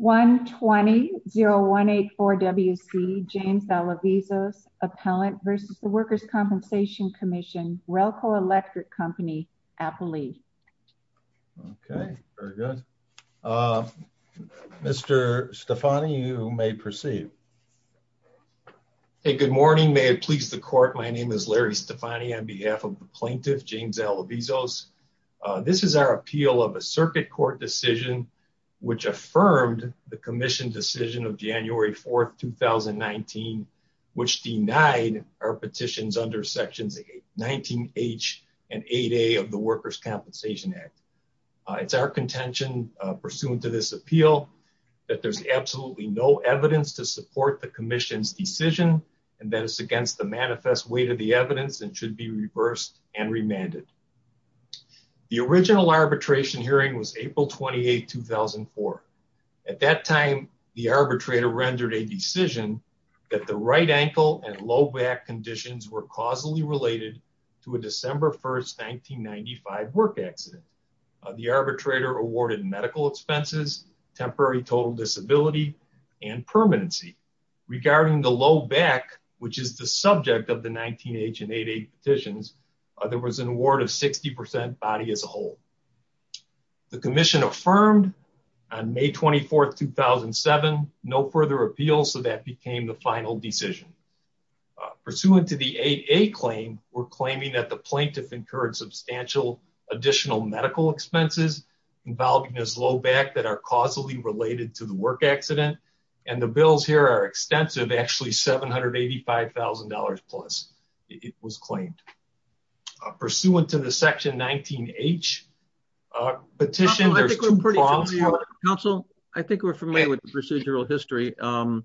120-0184-WC James Alavizos, Appellant versus the Workers' Compensation Commission, Relco Electric Company, Appalachia. Okay, very good. Mr. Stefani, you may proceed. Hey, good morning. May it please the court, my name is Larry Stefani on behalf of the plaintiff, James Alavizos. This is our appeal of a circuit court decision which affirmed the commission decision of January 4th, 2019, which denied our petitions under Sections 19H and 8A of the Workers' Compensation Act. It's our contention pursuant to this appeal that there's absolutely no evidence to support the commission's decision and that it's against the manifest weight of the amended. The original arbitration hearing was April 28, 2004. At that time, the arbitrator rendered a decision that the right ankle and low back conditions were causally related to a December 1st, 1995, work accident. The arbitrator awarded medical expenses, temporary total disability, and permanency. Regarding the low back, which is the subject of the 19H and 8A petitions, there was an award of 60% body as a whole. The commission affirmed on May 24th, 2007, no further appeal, so that became the final decision. Pursuant to the 8A claim, we're claiming that the plaintiff incurred substantial additional medical expenses involving his low back that are causally related to the work accident, and the bills here are extensive, actually $785,000 plus, it was claimed. Pursuant to the Section 19H petition, there's two problems. Counsel, I think we're familiar with the procedural history, and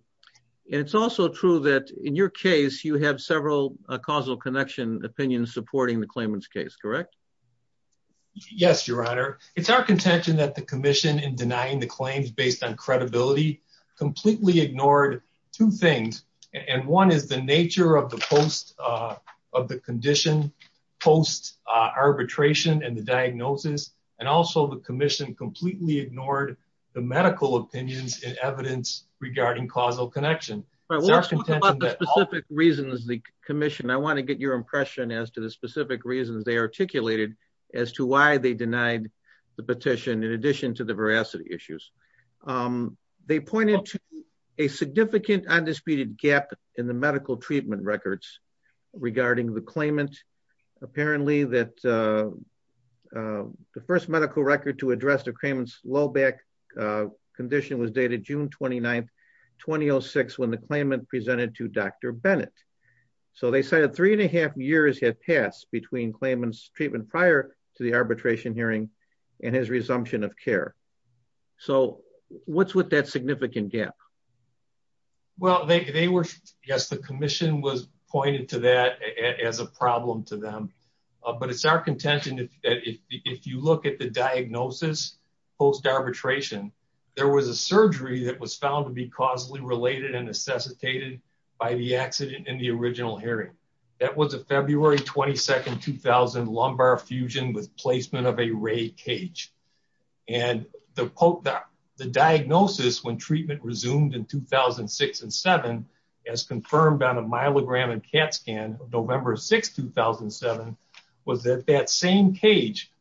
it's also true that in your case, you have several causal connection opinions supporting the claimant's case, correct? Yes, Your Honor. It's our contention that the commission in denying the claims based on completely ignored two things, and one is the nature of the post, of the condition, post arbitration and the diagnosis, and also the commission completely ignored the medical opinions and evidence regarding causal connection. It's our contention that- But what about the specific reasons the commission, I want to get your impression as to the specific reasons they articulated as to why they denied the petition in addition to the veracity issues. They pointed to a significant undisputed gap in the medical treatment records regarding the claimant. Apparently that the first medical record to address the claimant's low back condition was dated June 29th, 2006, when the claimant presented to Dr. Bennett. So they cited three and a half years had passed between claimant's treatment prior to the What's with that significant gap? Well, they were, yes, the commission was pointed to that as a problem to them. But it's our contention that if you look at the diagnosis post arbitration, there was a surgery that was found to be causally related and necessitated by the accident in the original hearing. That was a diagnosis when treatment resumed in 2006 and seven, as confirmed on a myelogram and CAT scan of November 6th, 2007, was that that same cage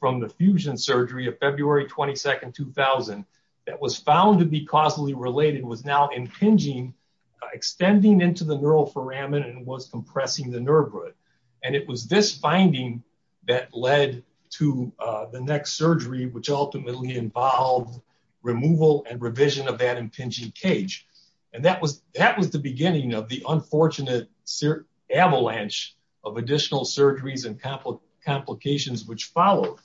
from the fusion surgery of February 22nd, 2000, that was found to be causally related was now impinging, extending into the neuroforamen and was compressing the nerve root. And it was this finding that led to the next surgery, which ultimately involved removal and revision of that impinging cage. And that was the beginning of the unfortunate avalanche of additional surgeries and complications which followed.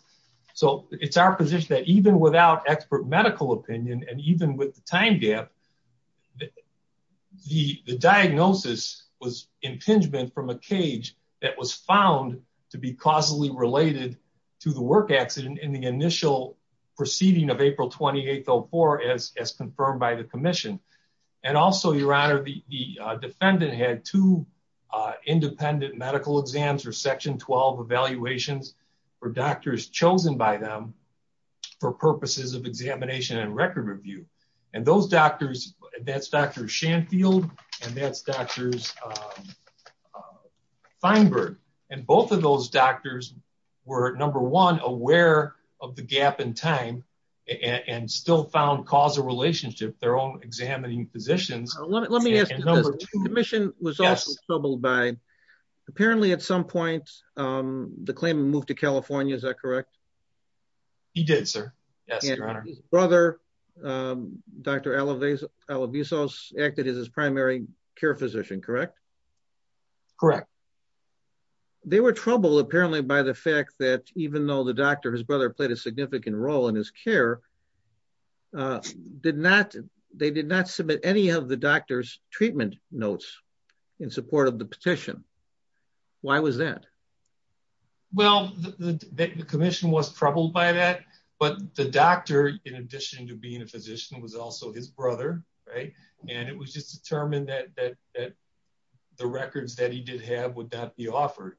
So it's our position that even without expert medical opinion, and even with the time gap, the diagnosis was impingement from a cage that was found to be causally related to the work accident in the initial proceeding of April 28th, 2004, as confirmed by the commission. And also your honor, the defendant had two independent medical exams or section 12 evaluations for doctors chosen by them for purposes of examination and record review. And those doctors, that's Dr. Shanfield and that's Dr. Feinberg. And both of those doctors were, number one, aware of the gap in time and still found causal relationship, their own examining physicians. Let me ask you this, the commission was also troubled by, apparently at some point, the claimant moved to California, is that correct? He did, sir. Yes, your honor. His brother, Dr. Alavizos, acted as his primary care physician, correct? Correct. They were troubled, apparently, by the fact that even though the doctor, his brother, played a significant role in his care, they did not submit any of the doctor's treatment notes in support of the petition. Why was that? Well, the commission was troubled by that, but the doctor, in addition to being a physician, was also his brother, right? And it was just determined that the records that he did have would not be offered.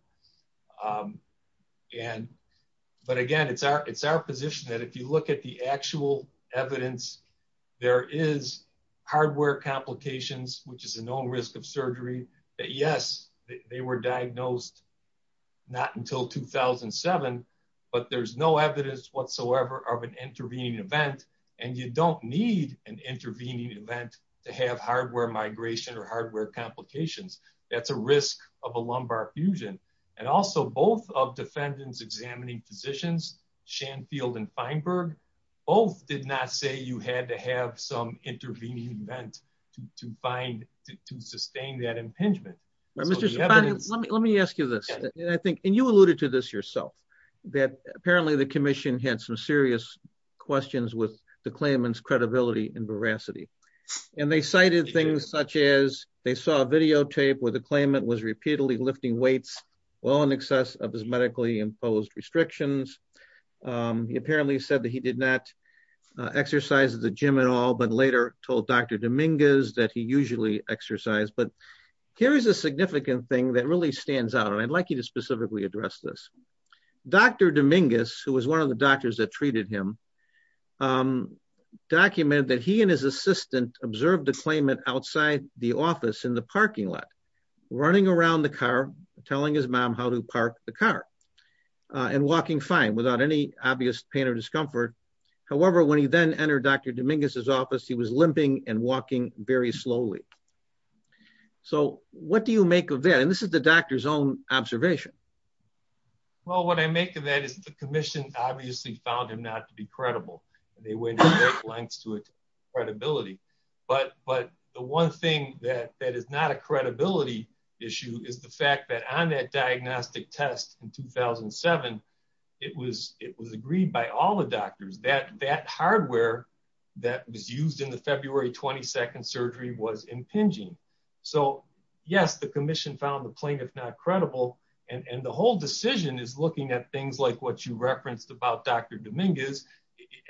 But again, it's our position that if you look at the actual evidence, there is hardware complications, which is a known risk of surgery, that yes, they were diagnosed not until 2007, but there's no evidence whatsoever of an intervening event. And you don't need an lumbar fusion. And also, both of defendants examining physicians, Shanfield and Feinberg, both did not say you had to have some intervening event to sustain that impingement. Let me ask you this, and you alluded to this yourself, that apparently the commission had some serious questions with the claimant's credibility and veracity. And they cited things such as they saw a videotape where the claimant was repeatedly lifting weights well in excess of his medically imposed restrictions. He apparently said that he did not exercise at the gym at all, but later told Dr. Dominguez that he usually exercised. But here's a significant thing that really stands out, and I'd like you to specifically address this. Dr. Dominguez, who was one of the in the parking lot, running around the car, telling his mom how to park the car, and walking fine without any obvious pain or discomfort. However, when he then entered Dr. Dominguez's office, he was limping and walking very slowly. So what do you make of that? And this is the doctor's own observation. Well, what I make of that is the commission obviously found not to be credible. But the one thing that is not a credibility issue is the fact that on that diagnostic test in 2007, it was agreed by all the doctors that that hardware that was used in the February 22nd surgery was impinging. So yes, the commission found the plaintiff not credible, and the whole decision is looking at things like what you referenced about Dr. Dominguez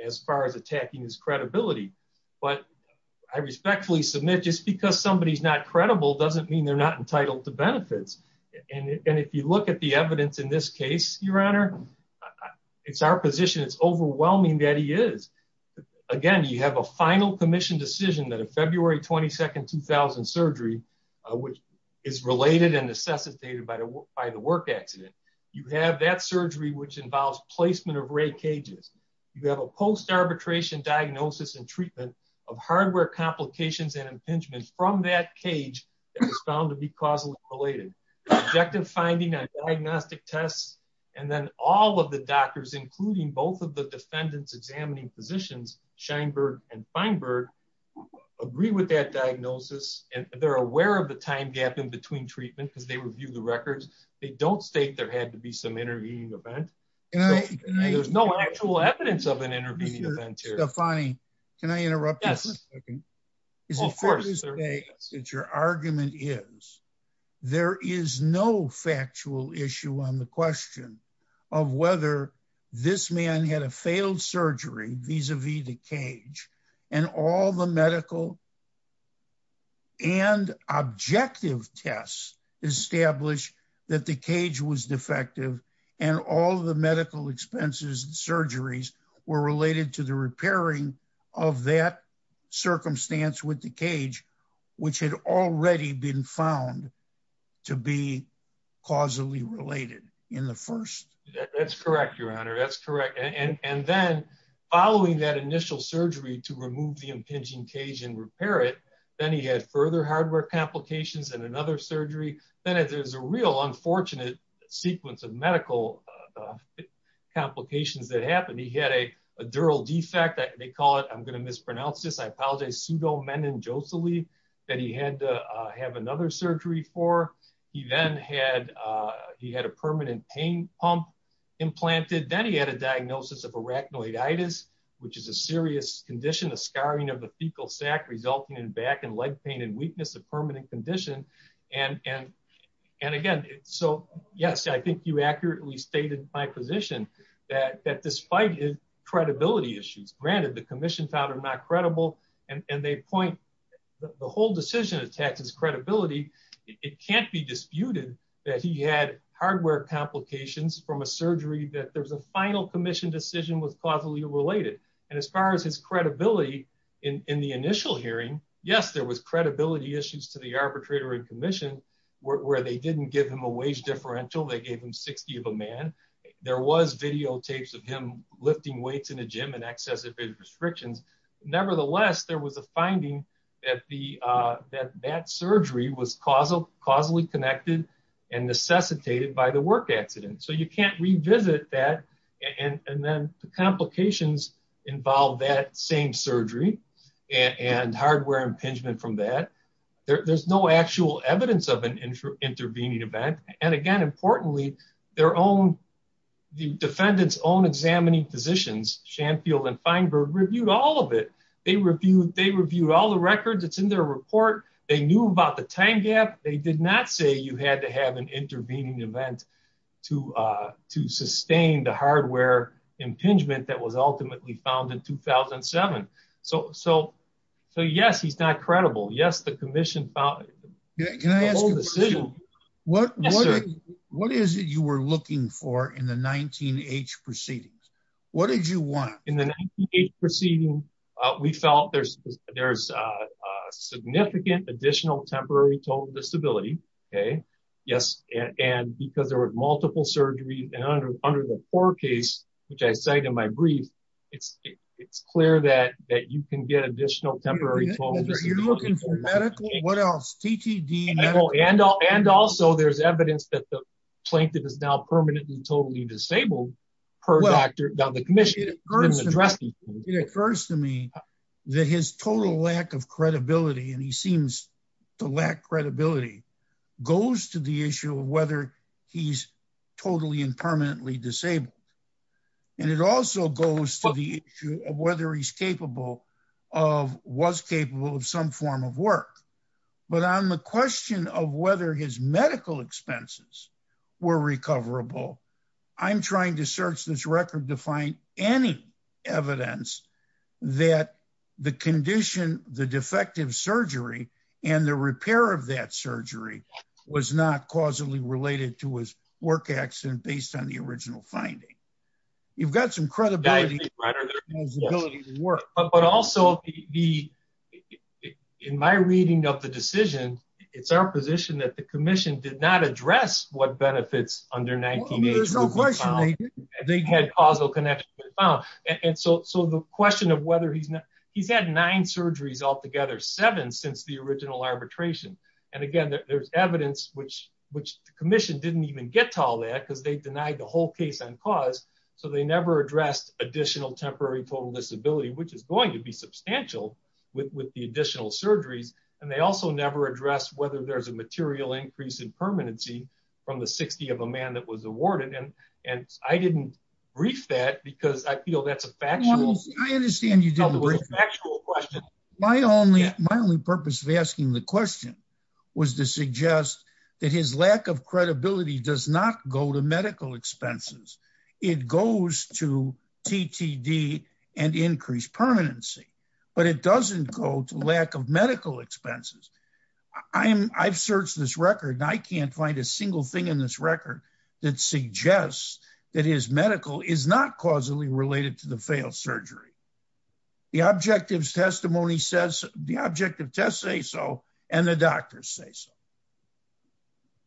as far as attacking his credibility. But I respectfully submit just because somebody's not credible doesn't mean they're not entitled to benefits. And if you look at the evidence in this case, Your Honor, it's our position, it's overwhelming that he is. Again, you have a final commission decision that a February 22nd, 2000 surgery, which is related and necessitated by the work accident. You have that surgery, which involves placement of ray cages. You have a post-arbitration diagnosis and treatment of hardware complications and impingement from that cage that was found to be causally related. The objective finding on diagnostic tests, and then all of the doctors, including both of the defendants examining physicians, Scheinberg and Feinberg, agree with that diagnosis. And they're aware of the time gap in between treatment because they review the records. They don't state there had to be some intervening event. There's no actual evidence of an intervening event here. Stefani, can I interrupt you for a second? Yes, of course. Is it fair to say that your argument is there is no factual issue on the question of whether this man had a failed surgery vis-a-vis the cage and all the medical and objective tests established that the cage was defective and all the medical expenses and surgeries were related to the repairing of that circumstance with the cage, which had already been found to be causally related in the first? That's correct, Your Honor. That's correct. And then following that initial surgery to remove the impinging cage and repair it, then he had further hardware complications and another surgery. Then there's a real unfortunate sequence of medical complications that happened. He had a dural defect. They call it, I'm going to mispronounce this, I apologize, pseudomeningosally that he had to have another surgery for. He then had a permanent pain pump implanted. Then he had a diagnosis of arachnoiditis, which is a serious condition, a scarring of the fecal sac resulting in back and leg pain and weakness, a permanent condition. And again, so yes, I think you accurately stated my position that despite his credibility issues, granted the commission found them not credible and they point, the whole decision attached his credibility. It can't be disputed that he had hardware complications from a surgery that there was a final commission decision was causally related. And as far as his credibility in the initial hearing, yes, there was credibility issues to the arbitrator and commission where they didn't give him a wage differential. They gave him 60 of a man. There was videotapes of him lifting weights in a gym and restrictions. Nevertheless, there was a finding that that surgery was causally connected and necessitated by the work accident. So you can't revisit that. And then the complications involve that same surgery and hardware impingement from that. There's no actual evidence of an intervening event. And again, importantly, their own, the defendant's own examining physicians, Shanfield and Feinberg reviewed all of it. They reviewed, they reviewed all the records. It's in their report. They knew about the time gap. They did not say you had to have an intervening event to, to sustain the hardware impingement that was ultimately found in 2007. So, so, so yes, he's not credible. Yes. The commission found the decision. What, what is it you were looking for in the 19-H proceedings? What did you want? In the 19-H proceeding, we felt there's, there's significant additional temporary total disability. Okay. Yes. And because there were multiple surgeries and under, under the poor case, which I cited in my brief, it's, it's clear that, that you can get additional temporary total disability. Are you looking for medical? What else? TTD, and also there's evidence that the plaintiff is now permanently totally disabled per doctor. It occurs to me that his total lack of credibility, and he seems to lack credibility, goes to the issue of whether he's totally and permanently disabled. And it also goes to the issue of whether he's capable of, was capable of some form of work. But on the question of whether his medical expenses were recoverable, I'm trying to search this record to find any evidence that the condition, the defective surgery, and the repair of that surgery was not causally related to his work accident based on the original finding. You've got some credibility. But also the, in my reading of the decision, it's our position that the commission did not address what benefits under 19-H would be found. They had causal connections. And so, so the question of whether he's not, he's had nine surgeries altogether, seven since the original arbitration. And again, there's evidence which, which the commission didn't even get to all that because they denied the whole case on cause. So they never addressed additional temporary total disability, which is going to be substantial with, with the additional surgeries. And they also never addressed whether there's a material increase in permanency from the 60 of a man that was awarded. And, and I didn't brief that because I feel that's a factual question. My only, my only purpose of asking the question was to suggest that his lack of credibility does not go to medical expenses. It goes to TTD and increased permanency, but it doesn't go to lack of medical expenses. I'm, I've searched this record and I can't find a single thing in this record that suggests that his medical is not causally related to the failed surgery. The objectives testimony says the objective tests say so, and the doctors say so.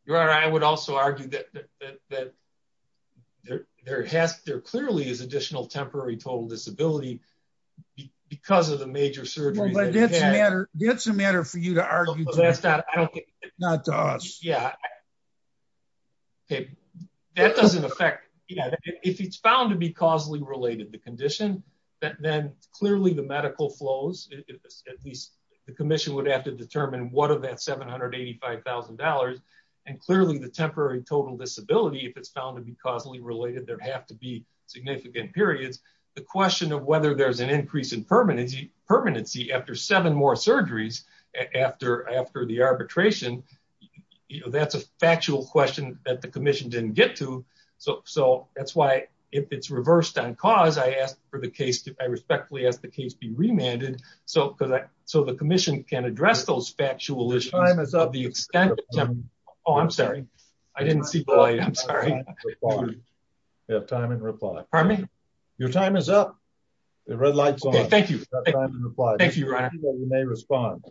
Your Honor, I would also argue that, that, that there, there has, there clearly is additional temporary total disability because of the major surgery. That's a matter for you to argue. Not to us. Yeah. Okay. That doesn't affect, if it's found to be causally related, the condition that then clearly the medical flows, at least the commission would have to determine what of that $785,000. And clearly the temporary total disability, if it's found to be causally related, there'd have to be significant periods. The question of whether there's an increase in permanency after seven more surgeries after, after the arbitration, you know, that's a factual question that the commission didn't get to. So, so that's why if it's reversed on cause, I asked for the case to, I respectfully asked the case be remanded. So, cause I, so the commission can address those factual issues. Oh, I'm sorry. I didn't see the light. I'm sorry. You have time and reply. Pardon me? Your time is up. The red light's on. Thank you. Thank you, Your Honor. You may respond.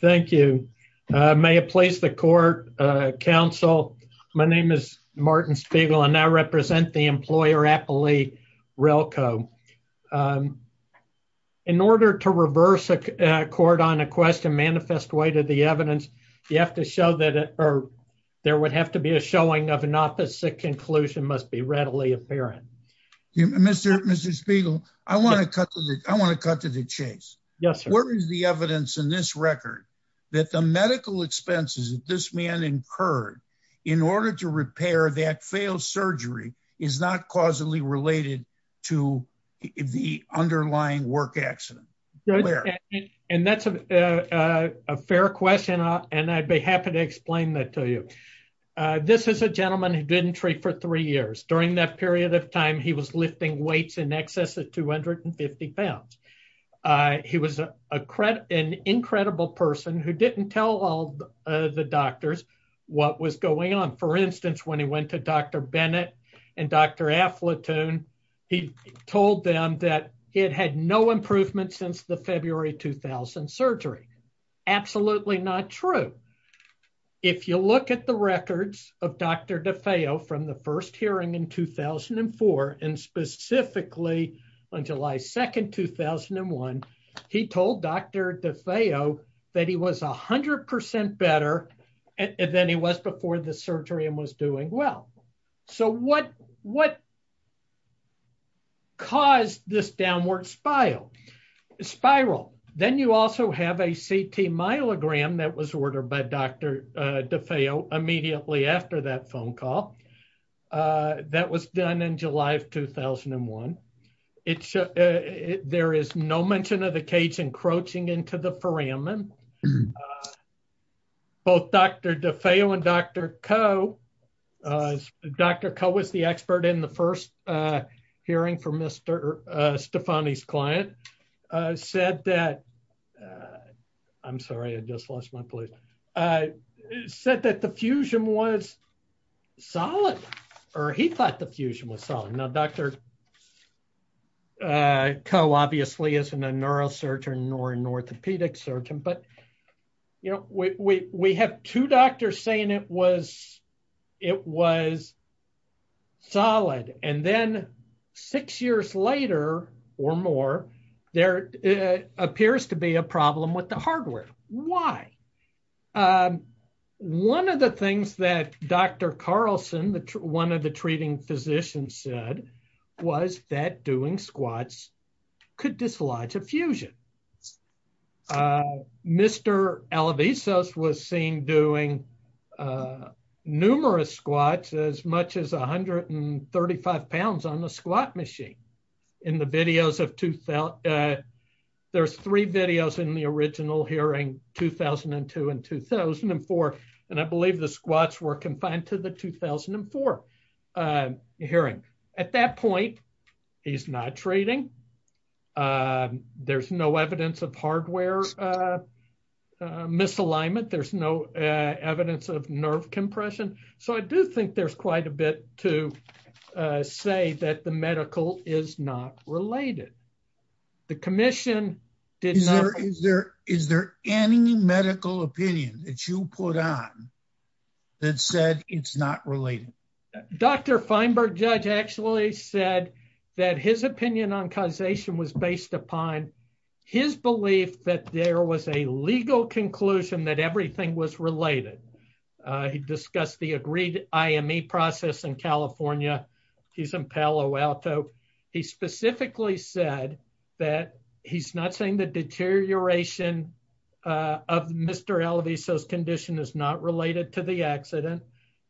Thank you. May I place the court, uh, counsel. My name is Martin Spiegel. I now represent the employer, Appalachia Relco. Um, in order to reverse a court on a question manifest way to the evidence, you have to show that, or there would have to be a showing of an opposite conclusion must be readily apparent. Mr. Mr. Spiegel, I want to cut to the, I want to cut to the chase. Yes, sir. What is the evidence in this record that the medical expenses that this man incurred in order to repair that failed surgery is not causally related to the underlying work accident. And that's a, uh, a fair question. And I'd be happy to explain that to you. Uh, this is a gentleman who didn't treat for three years. During that period of time, he was lifting weights in excess of 250 pounds. Uh, he was a credit, an incredible person who didn't tell all the doctors what was going on. For instance, when he and Dr. Aflatoon, he told them that it had no improvement since the February, 2000 surgery. Absolutely not true. If you look at the records of Dr. DeFeo from the first hearing in 2004, and specifically on July 2nd, 2001, he told Dr. DeFeo that he was a hundred percent better than he was before the surgery and was doing well. So what, what caused this downward spiral? Then you also have a CT myelogram that was ordered by Dr. DeFeo immediately after that phone call, uh, that was done in July of 2001. It should, uh, there is no mention of the cage encroaching into the foramen. Uh, both Dr. DeFeo and Dr. Coe, uh, Dr. Coe was the expert in the first, uh, hearing for Mr. Stefani's client, uh, said that, I'm sorry, I just lost my place. Uh, said that the fusion was solid, or he thought the fusion was solid. Now Dr. Uh, Coe obviously isn't a neurosurgeon nor an orthopedic surgeon, but you know, we, we, we have two doctors saying it was, it was solid. And then six years later or more, there appears to be a problem with the hardware. Why? Um, one of the things that Dr. Carlson, one of the treating physicians said was that doing squats could dislodge a fusion. Uh, Mr. Alivisos was seen doing, uh, numerous squats as much as 135 pounds on the squat machine in the videos of two, uh, there's three videos in the original hearing 2002 and 2004. And I believe the squats were confined to the 2004, uh, hearing at that point, he's not trading. Uh, there's no evidence of hardware, uh, uh, misalignment. There's no, uh, evidence of nerve compression. So I do think there's quite a bit to, uh, say that the medical is not related. The commission did not. Is there, is there, is there any medical opinion that you put on that said it's not related? Dr. Feinberg judge actually said that his opinion on causation was based upon his belief that there was a legal conclusion that everything was related. Uh, discussed the agreed IME process in California. He's in Palo Alto. He specifically said that he's not saying the deterioration, uh, of Mr. Alivisos condition is not related to the accident.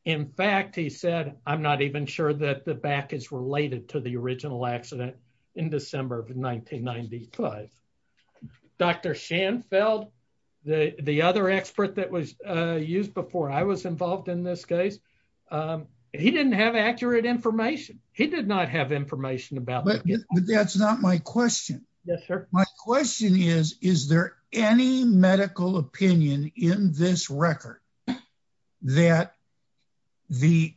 In fact, he said, I'm not even sure that the back is related to the original accident in December of 1995. Dr. Schoenfeld, the, the other expert that was, uh, used before I was involved in this case. Um, he didn't have accurate information. He did not have information about, but that's not my question. My question is, is there any medical opinion in this record that the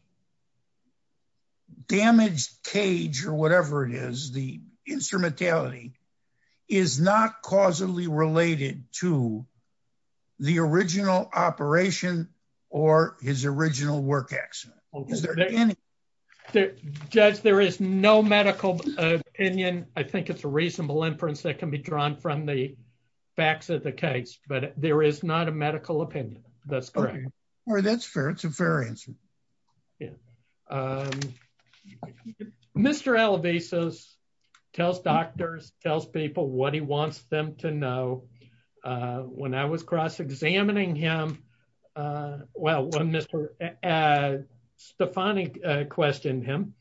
damage cage or whatever it is, the instrumentality is not causally related to the original operation or his original work accident? Is there any judge? There is no medical opinion. I think it's a reasonable inference that can be drawn from the facts of the case, but there is not a medical opinion. That's correct. Or that's fair. It's a fair answer. Yeah. Um, Mr. Alivisos tells doctors, tells people what he wants them to know. Uh, when I was cross examining him, uh, well, when Mr. Uh, Stephanie, uh, questioned him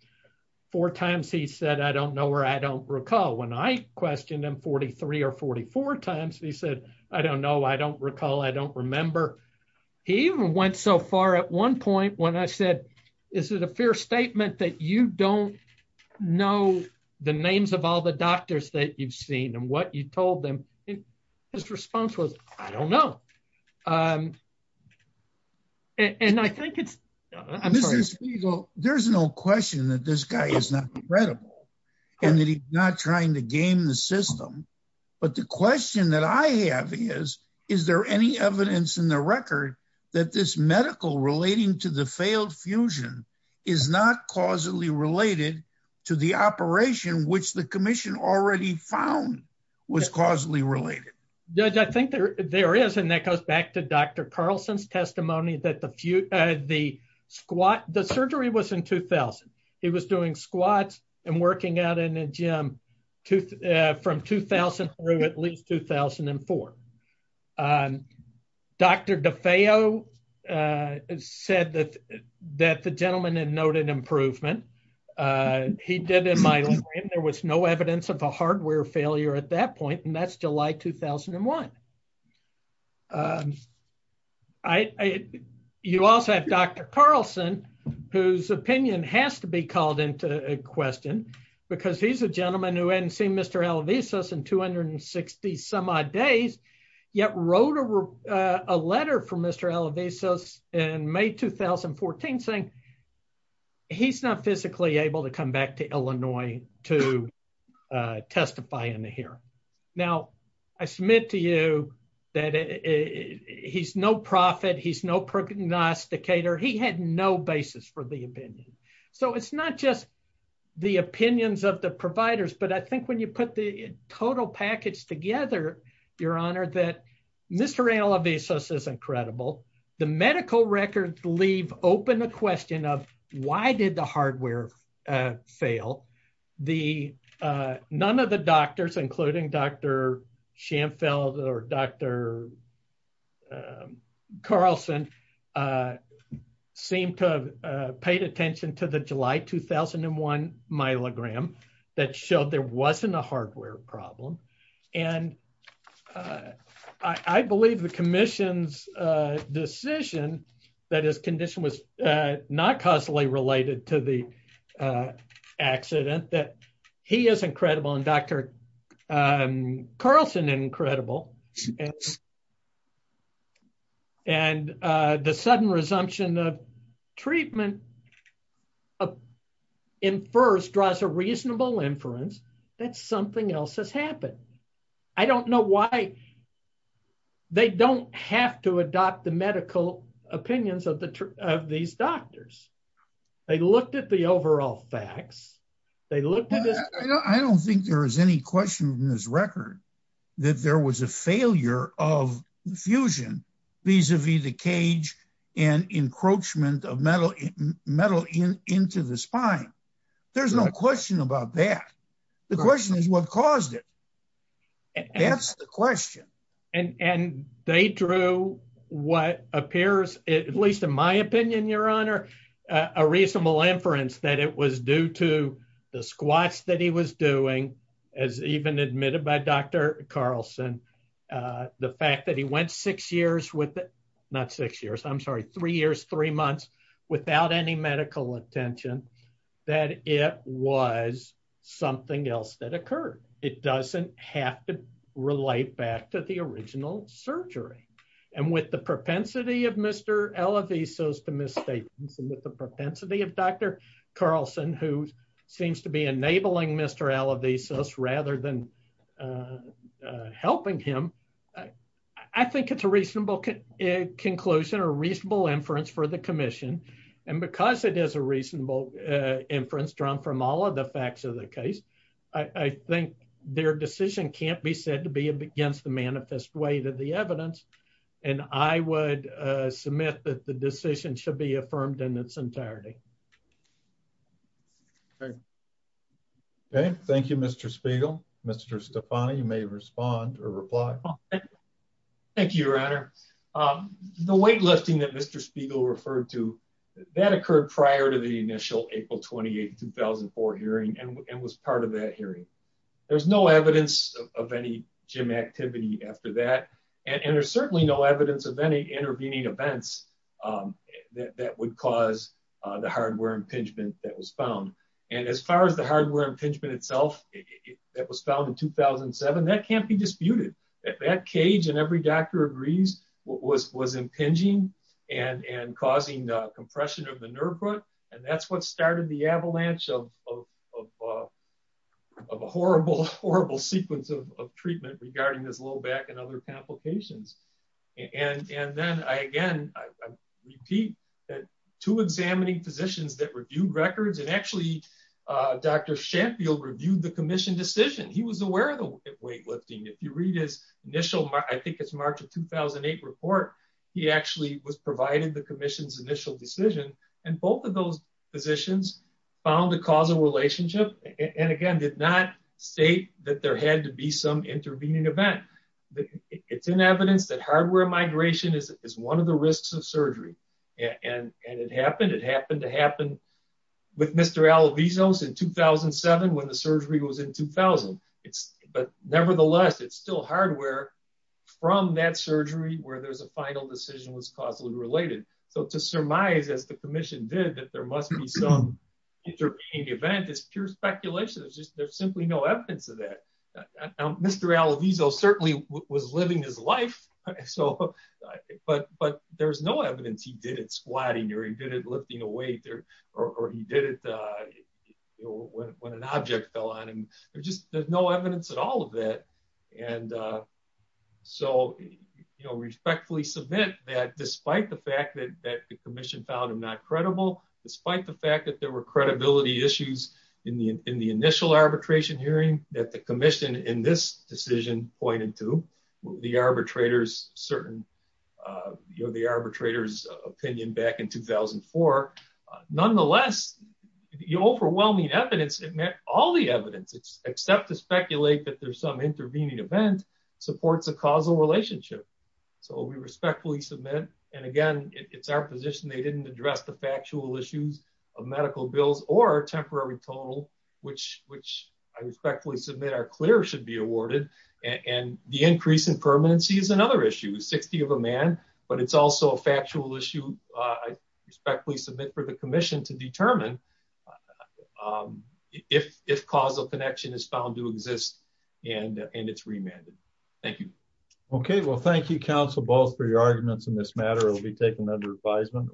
four times, he said, I don't know where I don't recall when I questioned him 44 times. And he said, I don't know. I don't recall. I don't remember. He even went so far at one point when I said, is it a fair statement that you don't know the names of all the doctors that you've seen and what you told them? And his response was, I don't know. Um, and I think it's, there's no question that this guy is not credible and that he's not trying to system. But the question that I have is, is there any evidence in the record that this medical relating to the failed fusion is not causally related to the operation, which the commission already found was causally related. Yeah. I think there, there is. And that goes back to Dr. Carlson's testimony that the few, uh, the squat, the surgery was in 2000. He was doing squats and working out in a gym to, uh, from 2003, at least 2004. Um, Dr. DeFeo, uh, said that, that the gentleman had noted improvement. Uh, he did in my, there was no evidence of a hardware failure at that point. And that's July, 2001. Um, I, I, you also have Dr. Carlson whose opinion has to be called into question because he's a gentleman who hadn't seen Mr. Alvisos in 260 some odd days yet wrote a, uh, a letter for Mr. Alvisos in May, 2014 saying he's not physically able to come back to Illinois to, uh, testify in the here. Now I submit to you that he's no profit. He's no prognosticator. He had no basis for the opinion. So it's not just the opinions of the providers, but I think when you put the total package together, your honor, that Mr. Alvisos is incredible. The medical records leave open a question of why did the Dr. Carlson, uh, seem to have, uh, paid attention to the July, 2001 myelogram that showed there wasn't a hardware problem. And, uh, I, I believe the commission's, uh, decision that his condition was, uh, not causally related to the, uh, accident that he is incredible. And Dr. Carlson is incredible. And, uh, the sudden resumption of treatment in first draws a reasonable inference that something else has happened. I don't know why they don't have to adopt the medical opinions of the, of these doctors. They looked at the I don't think there is any question from this record that there was a failure of the fusion vis-a-vis the cage and encroachment of metal metal in, into the spine. There's no question about that. The question is what caused it? That's the question. And they drew what appears at least in my opinion, your honor, uh, a reasonable inference that it was due to the squats that he was doing as even admitted by Dr. Carlson. Uh, the fact that he went six years with not six years, I'm sorry, three years, three months without any medical attention, that it was something else that occurred. It doesn't have to relate back to the original surgery. And with the propensity of Mr. LLV, so as to misstate some of the propensity of Dr. Carlson, who seems to be enabling Mr. LLV, so this rather than, uh, uh, helping him, I think it's a reasonable conclusion or reasonable inference for the commission. And because it is a reasonable, uh, inference drawn from all of the facts of the case, I think their decision can't be said to be against the manifest weight of the evidence. And I would, uh, submit that the decision should be affirmed in its entirety. Okay. Okay. Thank you, Mr. Spiegel, Mr. Stefani, you may respond or reply. Thank you, your honor. Um, the weightlifting that Mr. Spiegel referred to that occurred prior to the hearing. There's no evidence of any gym activity after that. And there's certainly no evidence of any intervening events, um, that would cause, uh, the hardware impingement that was found. And as far as the hardware impingement itself that was found in 2007, that can't be disputed that that cage and every doctor agrees was, was impinging and, and causing the compression of and that's what started the avalanche of, of, of, uh, of a horrible, horrible sequence of treatment regarding this low back and other complications. And, and then I, again, I repeat that to examining physicians that reviewed records and actually, uh, Dr. Shampfield reviewed the commission decision. He was aware of the weight lifting. If you read his initial, I think it's March of 2008 report, he actually was provided the commission's initial decision. And both of those positions found a causal relationship. And again, did not state that there had to be some intervening event. It's an evidence that hardware migration is one of the risks of surgery. And it happened, it happened to happen with Mr. Alvizos in 2007, when the surgery was in 2000. It's, but nevertheless, it's still hardware from that surgery where there's a final decision was causally related. So to surmise, as the commission did that, there must be some intervening event. It's pure speculation. It's just, there's simply no evidence of that. Mr. Alvizos certainly was living his life. So, but, but there's no evidence he did it squatting or he did it lifting a weight there, or he did it, uh, you know, when, when an object fell on him, there's just, there's no evidence at all of that. And, uh, so, you know, respectfully submit that despite the fact that, that the commission found him not credible, despite the fact that there were credibility issues in the, in the initial arbitration hearing that the commission in this decision pointed to the arbitrators, certain, uh, you know, the arbitrators opinion back in 2004, nonetheless, the overwhelming evidence, it met all the evidence except to speculate that there's some intervening event supports a causal relationship. So we respectfully submit. And again, it's our position. They didn't address the factual issues of medical bills or temporary total, which, which I respectfully submit are clear should be awarded. And the increase in permanency is another issue is 60 of a man, but it's also a factual issue. I respectfully submit for the commission to determine, um, if, if causal connection is found to exist and, and it's remanded. Thank you. Okay. Well, thank you counsel, both for your arguments in this matter. It will be taken under advisement.